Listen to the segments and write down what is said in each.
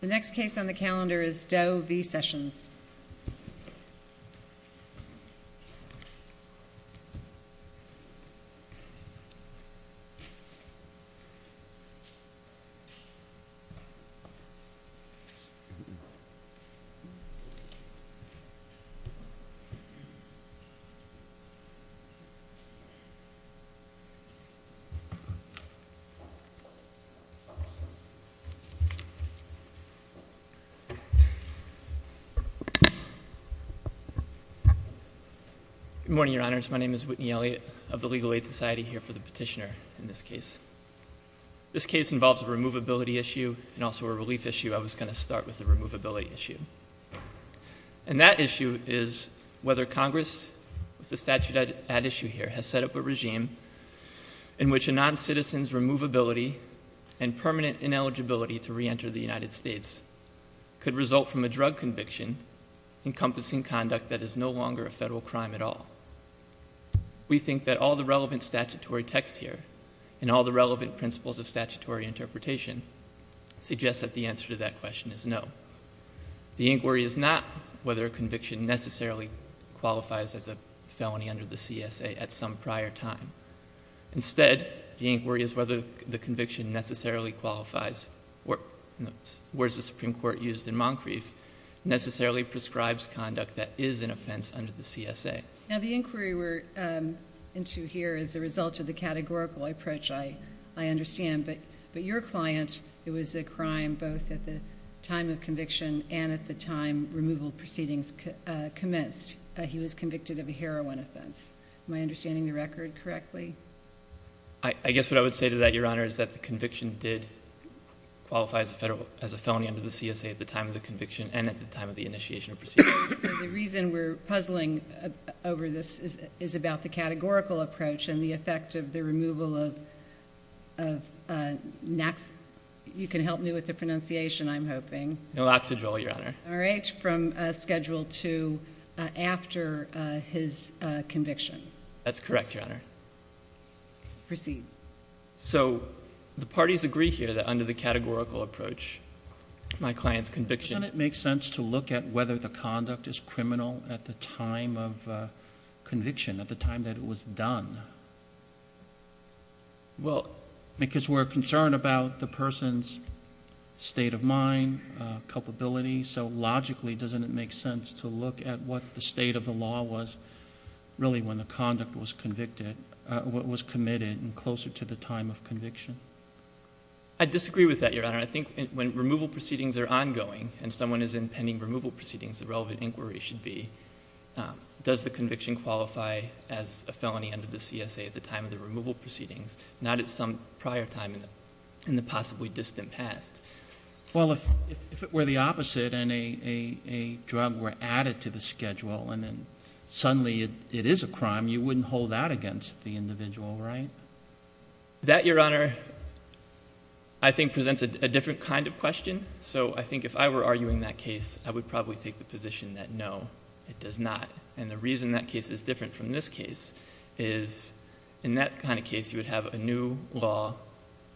The next case on the calendar is Doe v. Sessions. Good morning, Your Honors. My name is Whitney Elliott of the Legal Aid Society here for the petitioner in this case. This case involves a removability issue and also a relief issue. I was going to start with the removability issue. And that issue is whether Congress, with the statute at issue here, has set up a regime in which a noncitizen's removability and permanent ineligibility to reenter the United States could result from a drug conviction encompassing conduct that is no longer a federal crime at all. We think that all the relevant statutory text here and all the relevant principles of statutory interpretation suggest that the answer to that question is no. The inquiry is not whether a conviction necessarily qualifies as a felony under the CSA at some prior time. Instead, the inquiry is whether the conviction necessarily qualifies, in the words the Supreme Court used in Moncrief, necessarily prescribes conduct that is an offense under the CSA. Now, the inquiry we're into here is a result of the categorical approach I understand. But your client, it was a crime both at the time of conviction and at the time removal proceedings commenced. He was convicted of a heroin offense. Am I understanding the record correctly? I guess what I would say to that, Your Honor, is that the conviction did qualify as a felony under the CSA at the time of the conviction and at the time of the initiation of proceedings. So the reason we're puzzling over this is about the categorical approach and the effect of the removal of Nax... You can help me with the pronunciation, I'm hoping. No oxygel, Your Honor. All right. From schedule two after his conviction. That's correct, Your Honor. Proceed. So the parties agree here that under the categorical approach, my client's conviction... Doesn't it make sense to look at whether the conduct is criminal at the time of conviction, at the time that it was done? Well... Because we're concerned about the person's state of mind, culpability, so logically doesn't it make sense to look at what the state of the law was really when the conduct was convicted, what was committed closer to the time of conviction? I disagree with that, Your Honor. I think when removal proceedings are ongoing and someone is impending removal proceedings, the relevant inquiry should be, does the conviction qualify as a felony under the CSA at the time of removal proceedings, not at some prior time in the possibly distant past? Well, if it were the opposite and a drug were added to the schedule and then suddenly it is a crime, you wouldn't hold that against the individual, right? That, Your Honor, I think presents a different kind of question. So I think if I were arguing that case, I would probably take the position that no, it does not. And the reason that case is different from this case is, in that kind of case, you would have a new law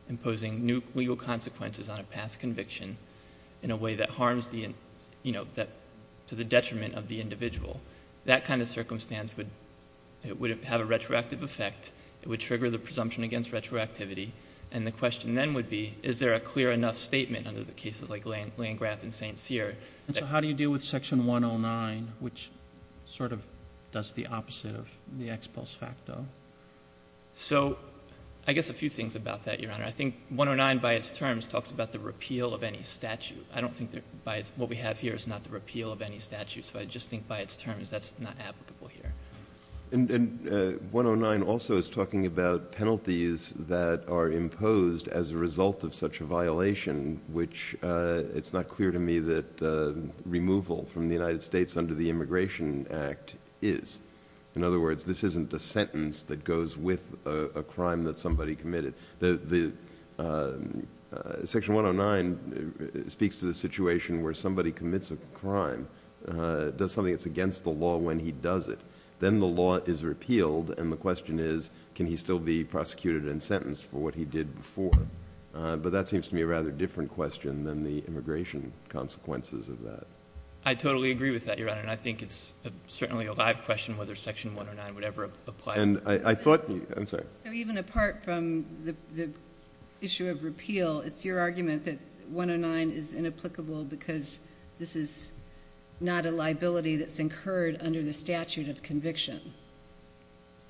imposing new legal consequences on a past conviction in a way that harms to the detriment of the individual. That kind of circumstance would have a retroactive effect, it would trigger the presumption against retroactivity, and the question then would be, is there a clear enough statement under the cases like Landgraf and St. Cyr? And so how do you deal with Section 109, which sort of does the opposite of the ex post facto? So I guess a few things about that, Your Honor. I think 109 by its terms talks about the repeal of any statute. I don't think what we have here is not the repeal of any statute, so I just think by its terms that's not applicable here. And 109 also is talking about penalties that are imposed as a result of such a violation, which it's not clear to me that removal from the United States under the Immigration Act is. In other words, this isn't a sentence that goes with a crime that somebody committed. Section 109 speaks to the situation where somebody commits a crime, does something that's against the law when he does it. Then the law is repealed, and the question is, can he still be prosecuted and sentenced for what he did before? But that seems to me a rather different question than the immigration consequences of that. I totally agree with that, Your Honor, and I think it's certainly a live question whether Section 109 would ever apply. And I thought— I'm sorry. So even apart from the issue of repeal, it's your argument that 109 is inapplicable because this is not a liability that's incurred under the statute of conviction?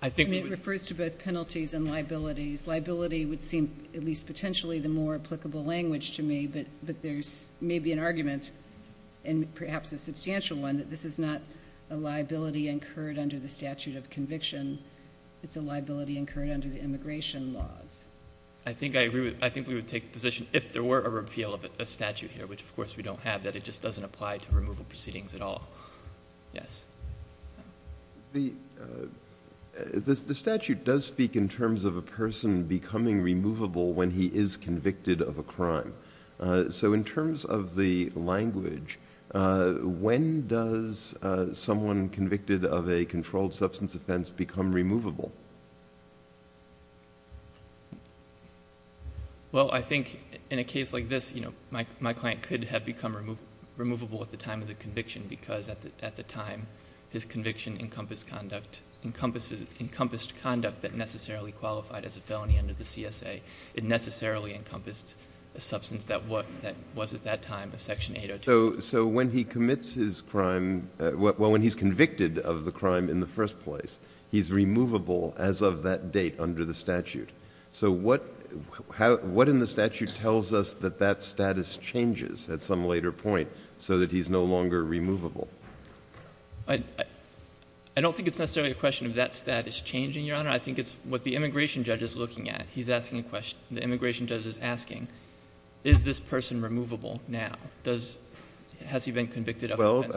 I think— And it refers to both penalties and liabilities. This liability would seem, at least potentially, the more applicable language to me, but there's maybe an argument, and perhaps a substantial one, that this is not a liability incurred under the statute of conviction. It's a liability incurred under the immigration laws. I think I agree with—I think we would take the position, if there were a repeal of a statute here, which of course we don't have, that it just doesn't apply to removal proceedings at all. Yes. The statute does speak in terms of a person becoming removable when he is convicted of a crime. So in terms of the language, when does someone convicted of a controlled substance offense become removable? Well, I think in a case like this, my client could have become removable at the time of his conviction encompassed conduct that necessarily qualified as a felony under the CSA. It necessarily encompassed a substance that was at that time a Section 802. So when he commits his crime—well, when he's convicted of the crime in the first place, he's removable as of that date under the statute. So what in the statute tells us that that status changes at some later point so that he's no longer removable? I don't think it's necessarily a question of that status changing, Your Honor. I think it's what the immigration judge is looking at. He's asking a question. The immigration judge is asking, is this person removable now? Has he been convicted of an offense?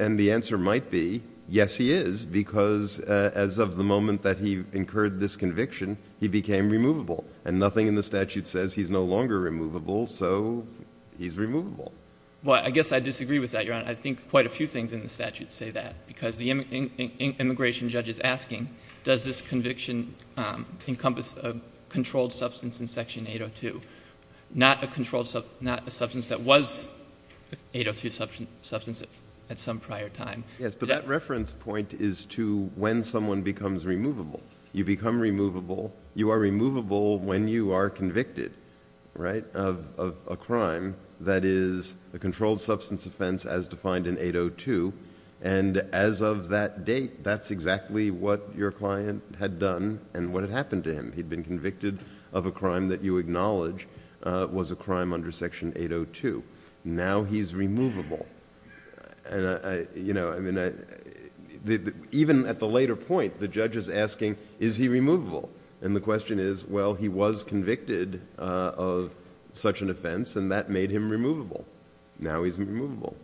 And the answer might be, yes, he is, because as of the moment that he incurred this conviction, he became removable. And nothing in the statute says he's no longer removable, so he's removable. Well, I guess I disagree with that, Your Honor. I think quite a few things in the statute say that, because the immigration judge is asking, does this conviction encompass a controlled substance in Section 802, not a substance that was a 802 substance at some prior time? Yes, but that reference point is to when someone becomes removable. You become removable. You are removable when you are convicted, right, of a crime that is a controlled substance offense as defined in 802, and as of that date, that's exactly what your client had done and what had happened to him. He'd been convicted of a crime that you acknowledge was a crime under Section 802. Now he's removable. Even at the later point, the judge is asking, is he removable? And the question is, well, he was convicted of such an offense, and that made him removable. Now he's removable.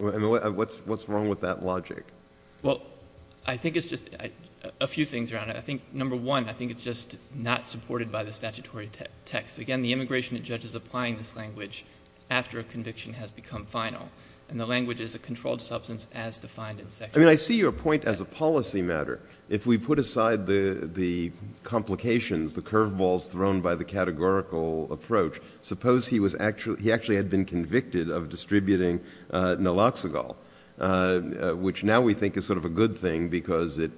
And what's wrong with that logic? Well, I think it's just a few things, Your Honor. I think, number one, I think it's just not supported by the statutory text. Again, the immigration judge is applying this language after a conviction has become final, and the language is a controlled substance as defined in Section 802. I mean, I see your point as a policy matter. If we put aside the complications, the curveballs thrown by the categorical approach, suppose he actually had been convicted of distributing Naloxone, which now we think is sort of a good thing because it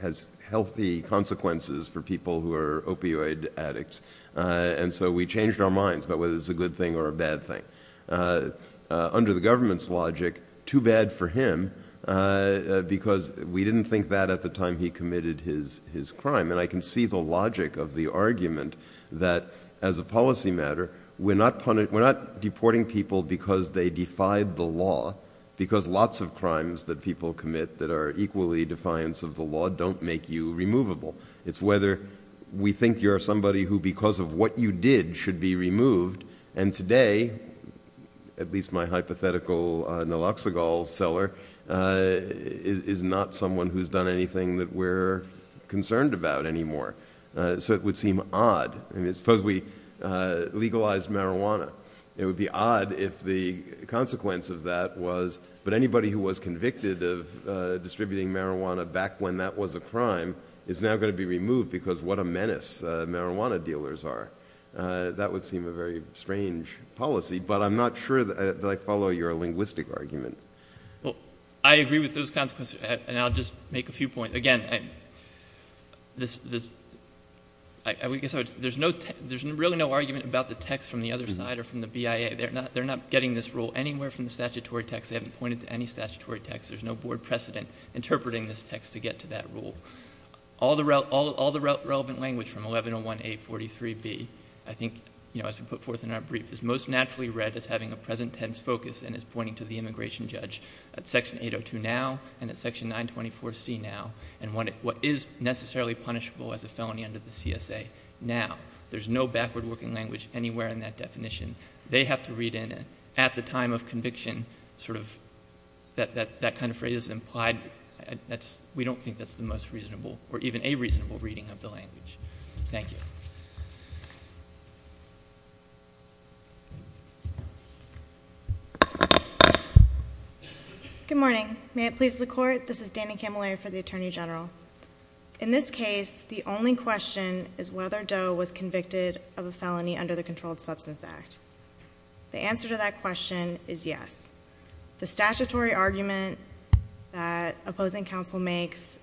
has healthy consequences for people who are opioid addicts. And so we changed our minds about whether it's a good thing or a bad thing. Under the government's logic, too bad for him because we didn't think that at the time he committed his crime. And I can see the logic of the argument that as a policy matter, we're not deporting people because they defied the law, because lots of crimes that people commit that are equally defiance of the law don't make you removable. It's whether we think you're somebody who, because of what you did, should be removed. And today, at least my hypothetical Naloxone seller, is not someone who's done anything that we're concerned about anymore. So it would seem odd. I mean, suppose we legalized marijuana, it would be odd if the consequence of that was, but anybody who was convicted of distributing marijuana back when that was a crime is now going to be removed because what a menace marijuana dealers are. That would seem a very strange policy, but I'm not sure that I follow your linguistic argument. Well, I agree with those consequences, and I'll just make a few points. Again, there's really no argument about the text from the other side or from the BIA. They're not getting this rule anywhere from the statutory text. They haven't pointed to any statutory text. There's no board precedent interpreting this text to get to that rule. All the relevant language from 1101A43B, I think, as we put forth in our brief, is most likely to be judged at section 802 now and at section 924C now, and what is necessarily punishable as a felony under the CSA now. There's no backward working language anywhere in that definition. They have to read in it at the time of conviction, sort of, that that kind of phrase is implied. We don't think that's the most reasonable or even a reasonable reading of the language. Thank you. Good morning. May it please the Court, this is Dani Camilleri for the Attorney General. In this case, the only question is whether Doe was convicted of a felony under the Controlled Substance Act. The answer to that question is yes. The statutory argument that opposing counsel makes,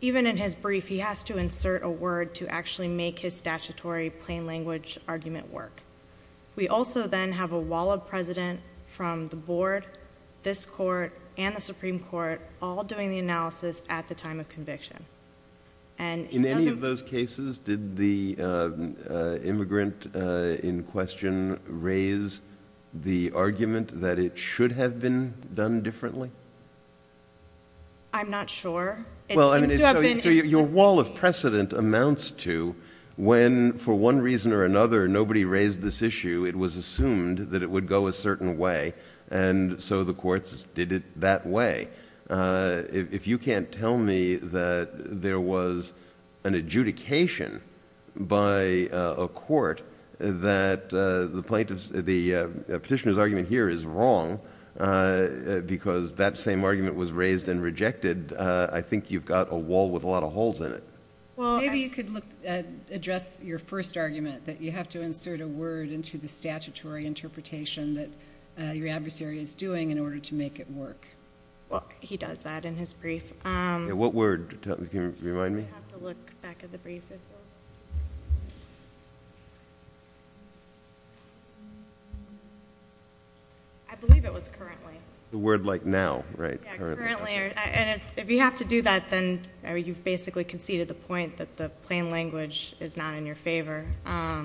even in his brief, he has to insert a word to actually make his statutory plain language argument work. We also then have a wall of precedent from the board, this Court, and the Supreme Court, all doing the analysis at the time of conviction. In any of those cases, did the immigrant in question raise the argument that it should have been done differently? I'm not sure. Well, I mean, your wall of precedent amounts to when, for one reason or another, nobody raised this issue, it was assumed that it would go a certain way, and so the courts did it that way. If you can't tell me that there was an adjudication by a court that the petitioner's argument here is wrong because that same argument was raised and rejected, I think you've got a wall with a lot of holes in it. Maybe you could address your first argument, that you have to insert a word into the statutory interpretation that your adversary is doing in order to make it work. He does that in his brief. What word? Can you remind me? I would have to look back at the brief. I believe it was currently. The word like now, right? Yeah, currently. And if you have to do that, then you've basically conceded the point that the plain language is not in your favor. I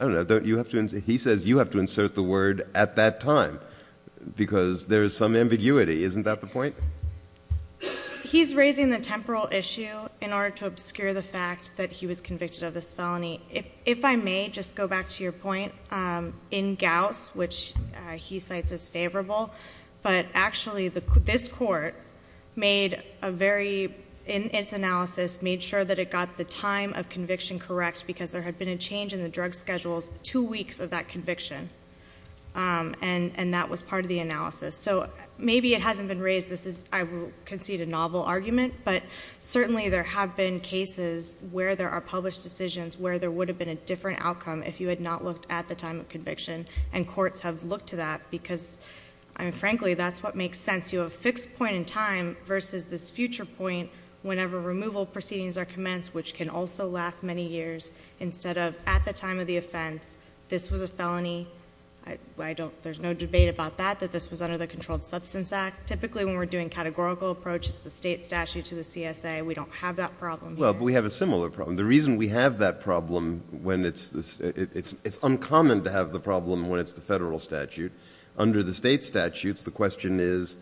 don't know. Don't you have to—he says you have to insert the word at that time because there is some ambiguity. Isn't that the point? He's raising the temporal issue in order to obscure the fact that he was convicted of this felony. If I may just go back to your point, in Gauss, which he cites as favorable, but actually this court made a very, in its analysis, made sure that it got the time of conviction correct because there had been a change in the drug schedules two weeks of that conviction. And that was part of the analysis. So maybe it hasn't been raised. This is, I would concede, a novel argument. But certainly there have been cases where there are published decisions where there would have been a different outcome if you had not looked at the time of conviction. And courts have looked to that because, I mean, frankly, that's what makes sense. You have a fixed point in time versus this future point whenever removal proceedings are commenced, which can also last many years, instead of at the time of the offense. This was a felony. I don't, there's no debate about that, that this was under the Controlled Substance Act. Typically when we're doing categorical approaches, the state statute to the CSA, we don't have that problem. Well, but we have a similar problem. The reason we have that problem when it's, it's uncommon to have the problem when it's the federal statute. Under the state statutes, the question is,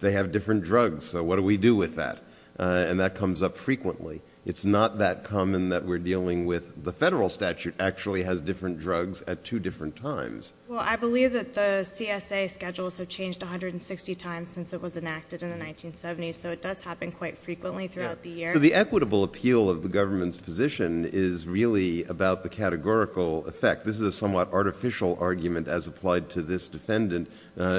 they have different drugs, so what do we do with that? And that comes up frequently. It's not that common that we're dealing with, the federal statute actually has different times. Well, I believe that the CSA schedules have changed 160 times since it was enacted in the 1970s, so it does happen quite frequently throughout the year. So the equitable appeal of the government's position is really about the categorical effect. This is a somewhat artificial argument as applied to this defendant,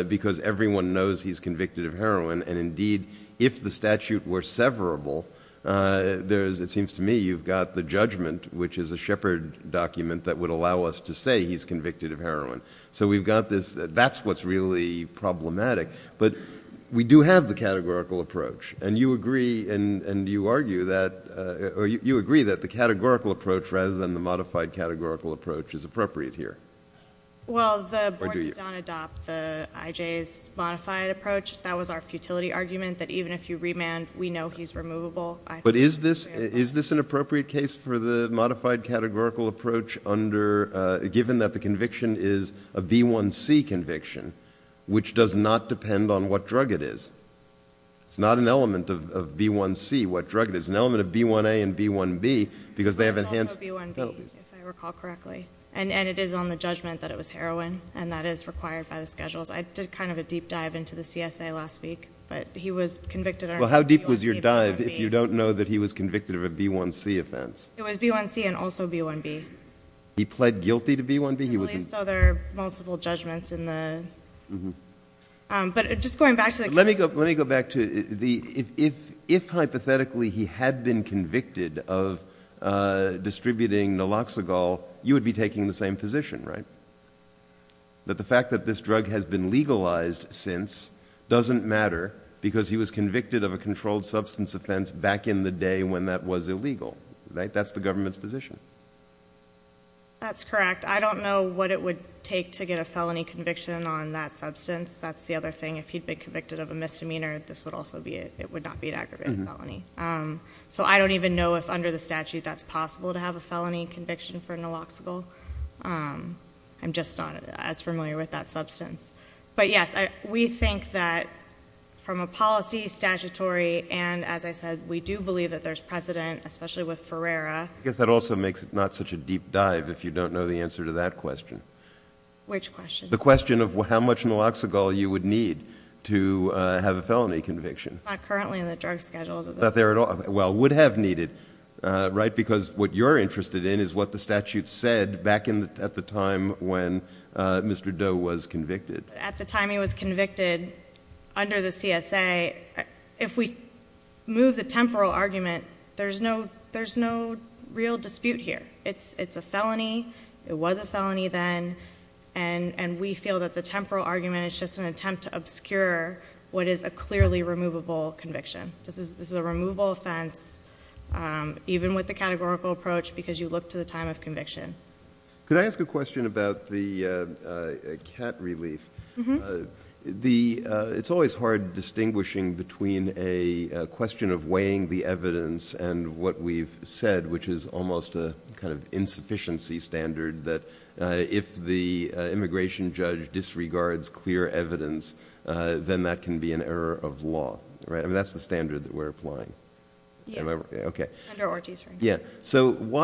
because everyone knows he's convicted of heroin, and indeed, if the statute were severable, there's, it seems to me, you've got the judgment, which is a Shepard document that would allow us to say he's convicted of heroin. So we've got this, that's what's really problematic. But we do have the categorical approach, and you agree, and you argue that, or you agree that the categorical approach rather than the modified categorical approach is appropriate here. Well, the board did not adopt the IJ's modified approach. That was our futility argument, that even if you remand, we know he's removable. But is this an appropriate case for the modified categorical approach under, given that the conviction is a B1C conviction, which does not depend on what drug it is? It's not an element of B1C what drug it is. It's an element of B1A and B1B, because they have enhanced... But it's also B1B, if I recall correctly, and it is on the judgment that it was heroin, and that is required by the schedules. I did kind of a deep dive into the CSA last week, but he was convicted under B1C, B1B... Well, how deep was your dive if you don't know that he was convicted of a B1C offense? It was B1C and also B1B. He pled guilty to B1B? He was... I believe so. There are multiple judgments in the... Mm-hmm. But just going back to the... Let me go back to the... If hypothetically he had been convicted of distributing naloxagol, you would be taking the same position, right? That the fact that this drug has been legalized since doesn't matter because he was convicted of a controlled substance offense back in the day when that was illegal, right? That's the government's position. That's correct. I don't know what it would take to get a felony conviction on that substance. That's the other thing. If he'd been convicted of a misdemeanor, this would also be... it would not be an aggravated felony. So I don't even know if under the statute that's possible to have a felony conviction for naloxagol. I'm just not as familiar with that substance. But yes, we think that from a policy, statutory, and as I said, we do believe that there's precedent, especially with Ferrera... I guess that also makes it not such a deep dive if you don't know the answer to that question. Which question? The question of how much naloxagol you would need to have a felony conviction. It's not currently in the drug schedules of the... It's not there at all. Well, it would have needed, right? Because what you're interested in is what the statute said back at the time when Mr. Mendo was convicted. At the time he was convicted, under the CSA, if we move the temporal argument, there's no real dispute here. It's a felony. It was a felony then. And we feel that the temporal argument is just an attempt to obscure what is a clearly removable conviction. This is a removable offense, even with the categorical approach, because you look to the time of conviction. Could I ask a question about the cat relief? It's always hard distinguishing between a question of weighing the evidence and what we've said, which is almost a kind of insufficiency standard that if the immigration judge disregards clear evidence, then that can be an error of law. That's the standard that we're applying. Why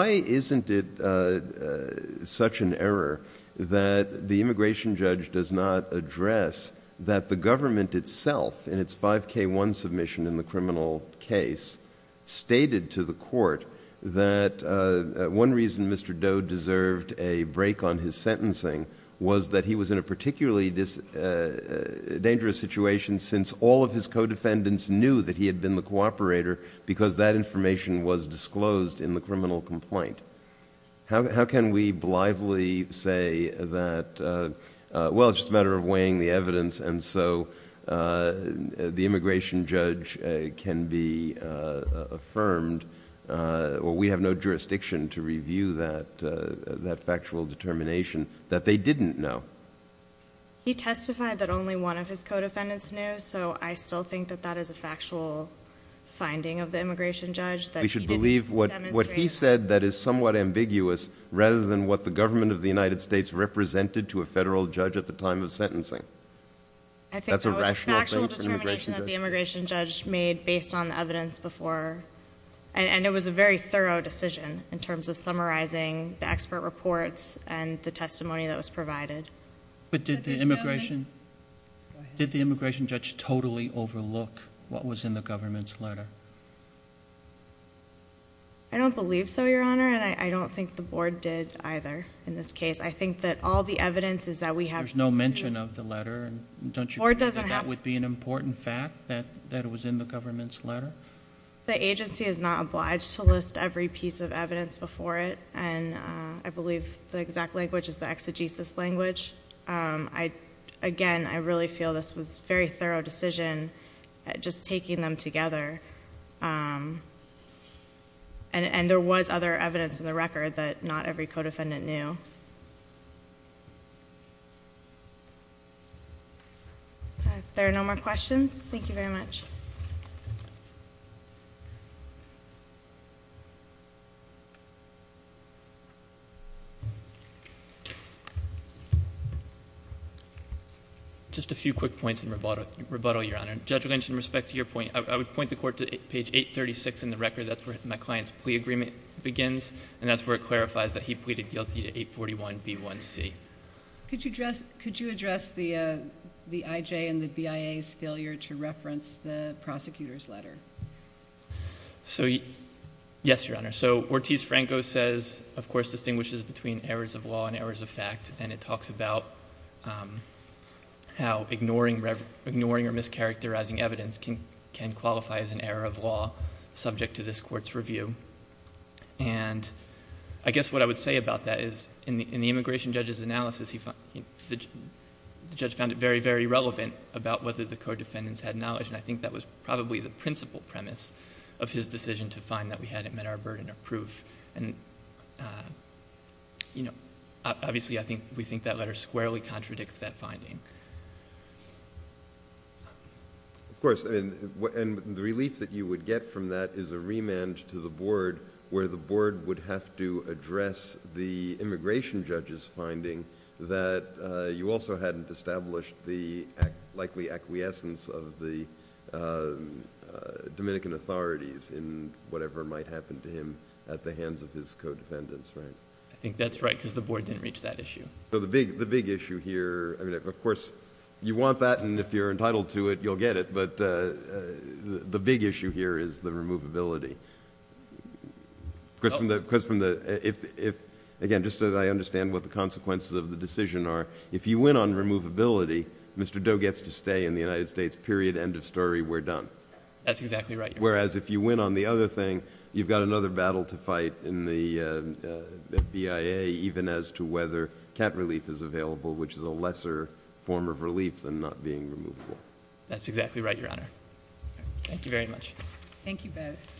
isn't it such an error that the immigration judge does not address that the government itself in its 5K1 submission in the criminal case stated to the court that one reason Mr. Doe deserved a break on his sentencing was that he was in a particularly dangerous situation since all of his co-defendants knew that he had been the cooperator because that information was disclosed in the criminal complaint? How can we blithely say that, well, it's just a matter of weighing the evidence, and so the immigration judge can be affirmed, well, we have no jurisdiction to review that factual determination, that they didn't know? He testified that only one of his co-defendants knew, so I still think that that is a factual finding of the immigration judge that he didn't demonstrate. We should believe what he said that is somewhat ambiguous rather than what the government of the United States represented to a federal judge at the time of sentencing. That's a rational thing for an immigration judge. I think that was a factual determination that the immigration judge made based on the evidence before, and it was a very thorough decision in terms of summarizing the expert reports and the testimony that was provided. But did the immigration judge totally overlook what was in the government's letter? I don't believe so, Your Honor, and I don't think the board did either in this case. I think that all the evidence is that we have... There's no mention of the letter, and don't you believe that that would be an important fact that it was in the government's letter? The agency is not obliged to list every piece of evidence before it, and I believe the exact language is the exegesis language. Again, I really feel this was a very thorough decision at just taking them together, and there was other evidence in the record that not every co-defendant knew. If there are no more questions, thank you very much. Thank you. Just a few quick points in rebuttal, Your Honor. Judge Lynch, in respect to your point, I would point the court to page 836 in the record. That's where my client's plea agreement begins, and that's where it clarifies that he pleaded guilty to 841B1C. Could you address the IJ and the BIA's failure to reference the prosecutor's letter? Yes, Your Honor. So Ortiz-Franco says, of course, distinguishes between errors of law and errors of fact, and it talks about how ignoring or mischaracterizing evidence can qualify as an error of law subject to this court's review. I guess what I would say about that is, in the immigration judge's analysis, the judge found it very, very relevant about whether the co-defendants had knowledge, and I think that was probably the principal premise of his decision to find that we hadn't met our burden of proof. Obviously, I think we think that letter squarely contradicts that finding. Of course, and the relief that you would get from that is a remand to the board, where the board would have to address the immigration judge's finding that you also hadn't established the likely acquiescence of the Dominican authorities in whatever might happen to him at the hands of his co-defendants, right? I think that's right, because the board didn't reach that issue. The big issue here... of course, you want that, and if you're entitled to it, you'll get it, but the big issue here is the removability, because from the... again, just so that I understand what the consequences of the decision are, if you win on removability, Mr. Doe gets to stay in the United States, period, end of story, we're done. That's exactly right. Whereas, if you win on the other thing, you've got another battle to fight in the BIA, even as to whether cat relief is available, which is a lesser form of relief than not being removable. That's exactly right, Your Honor. Thank you very much. Thank you both.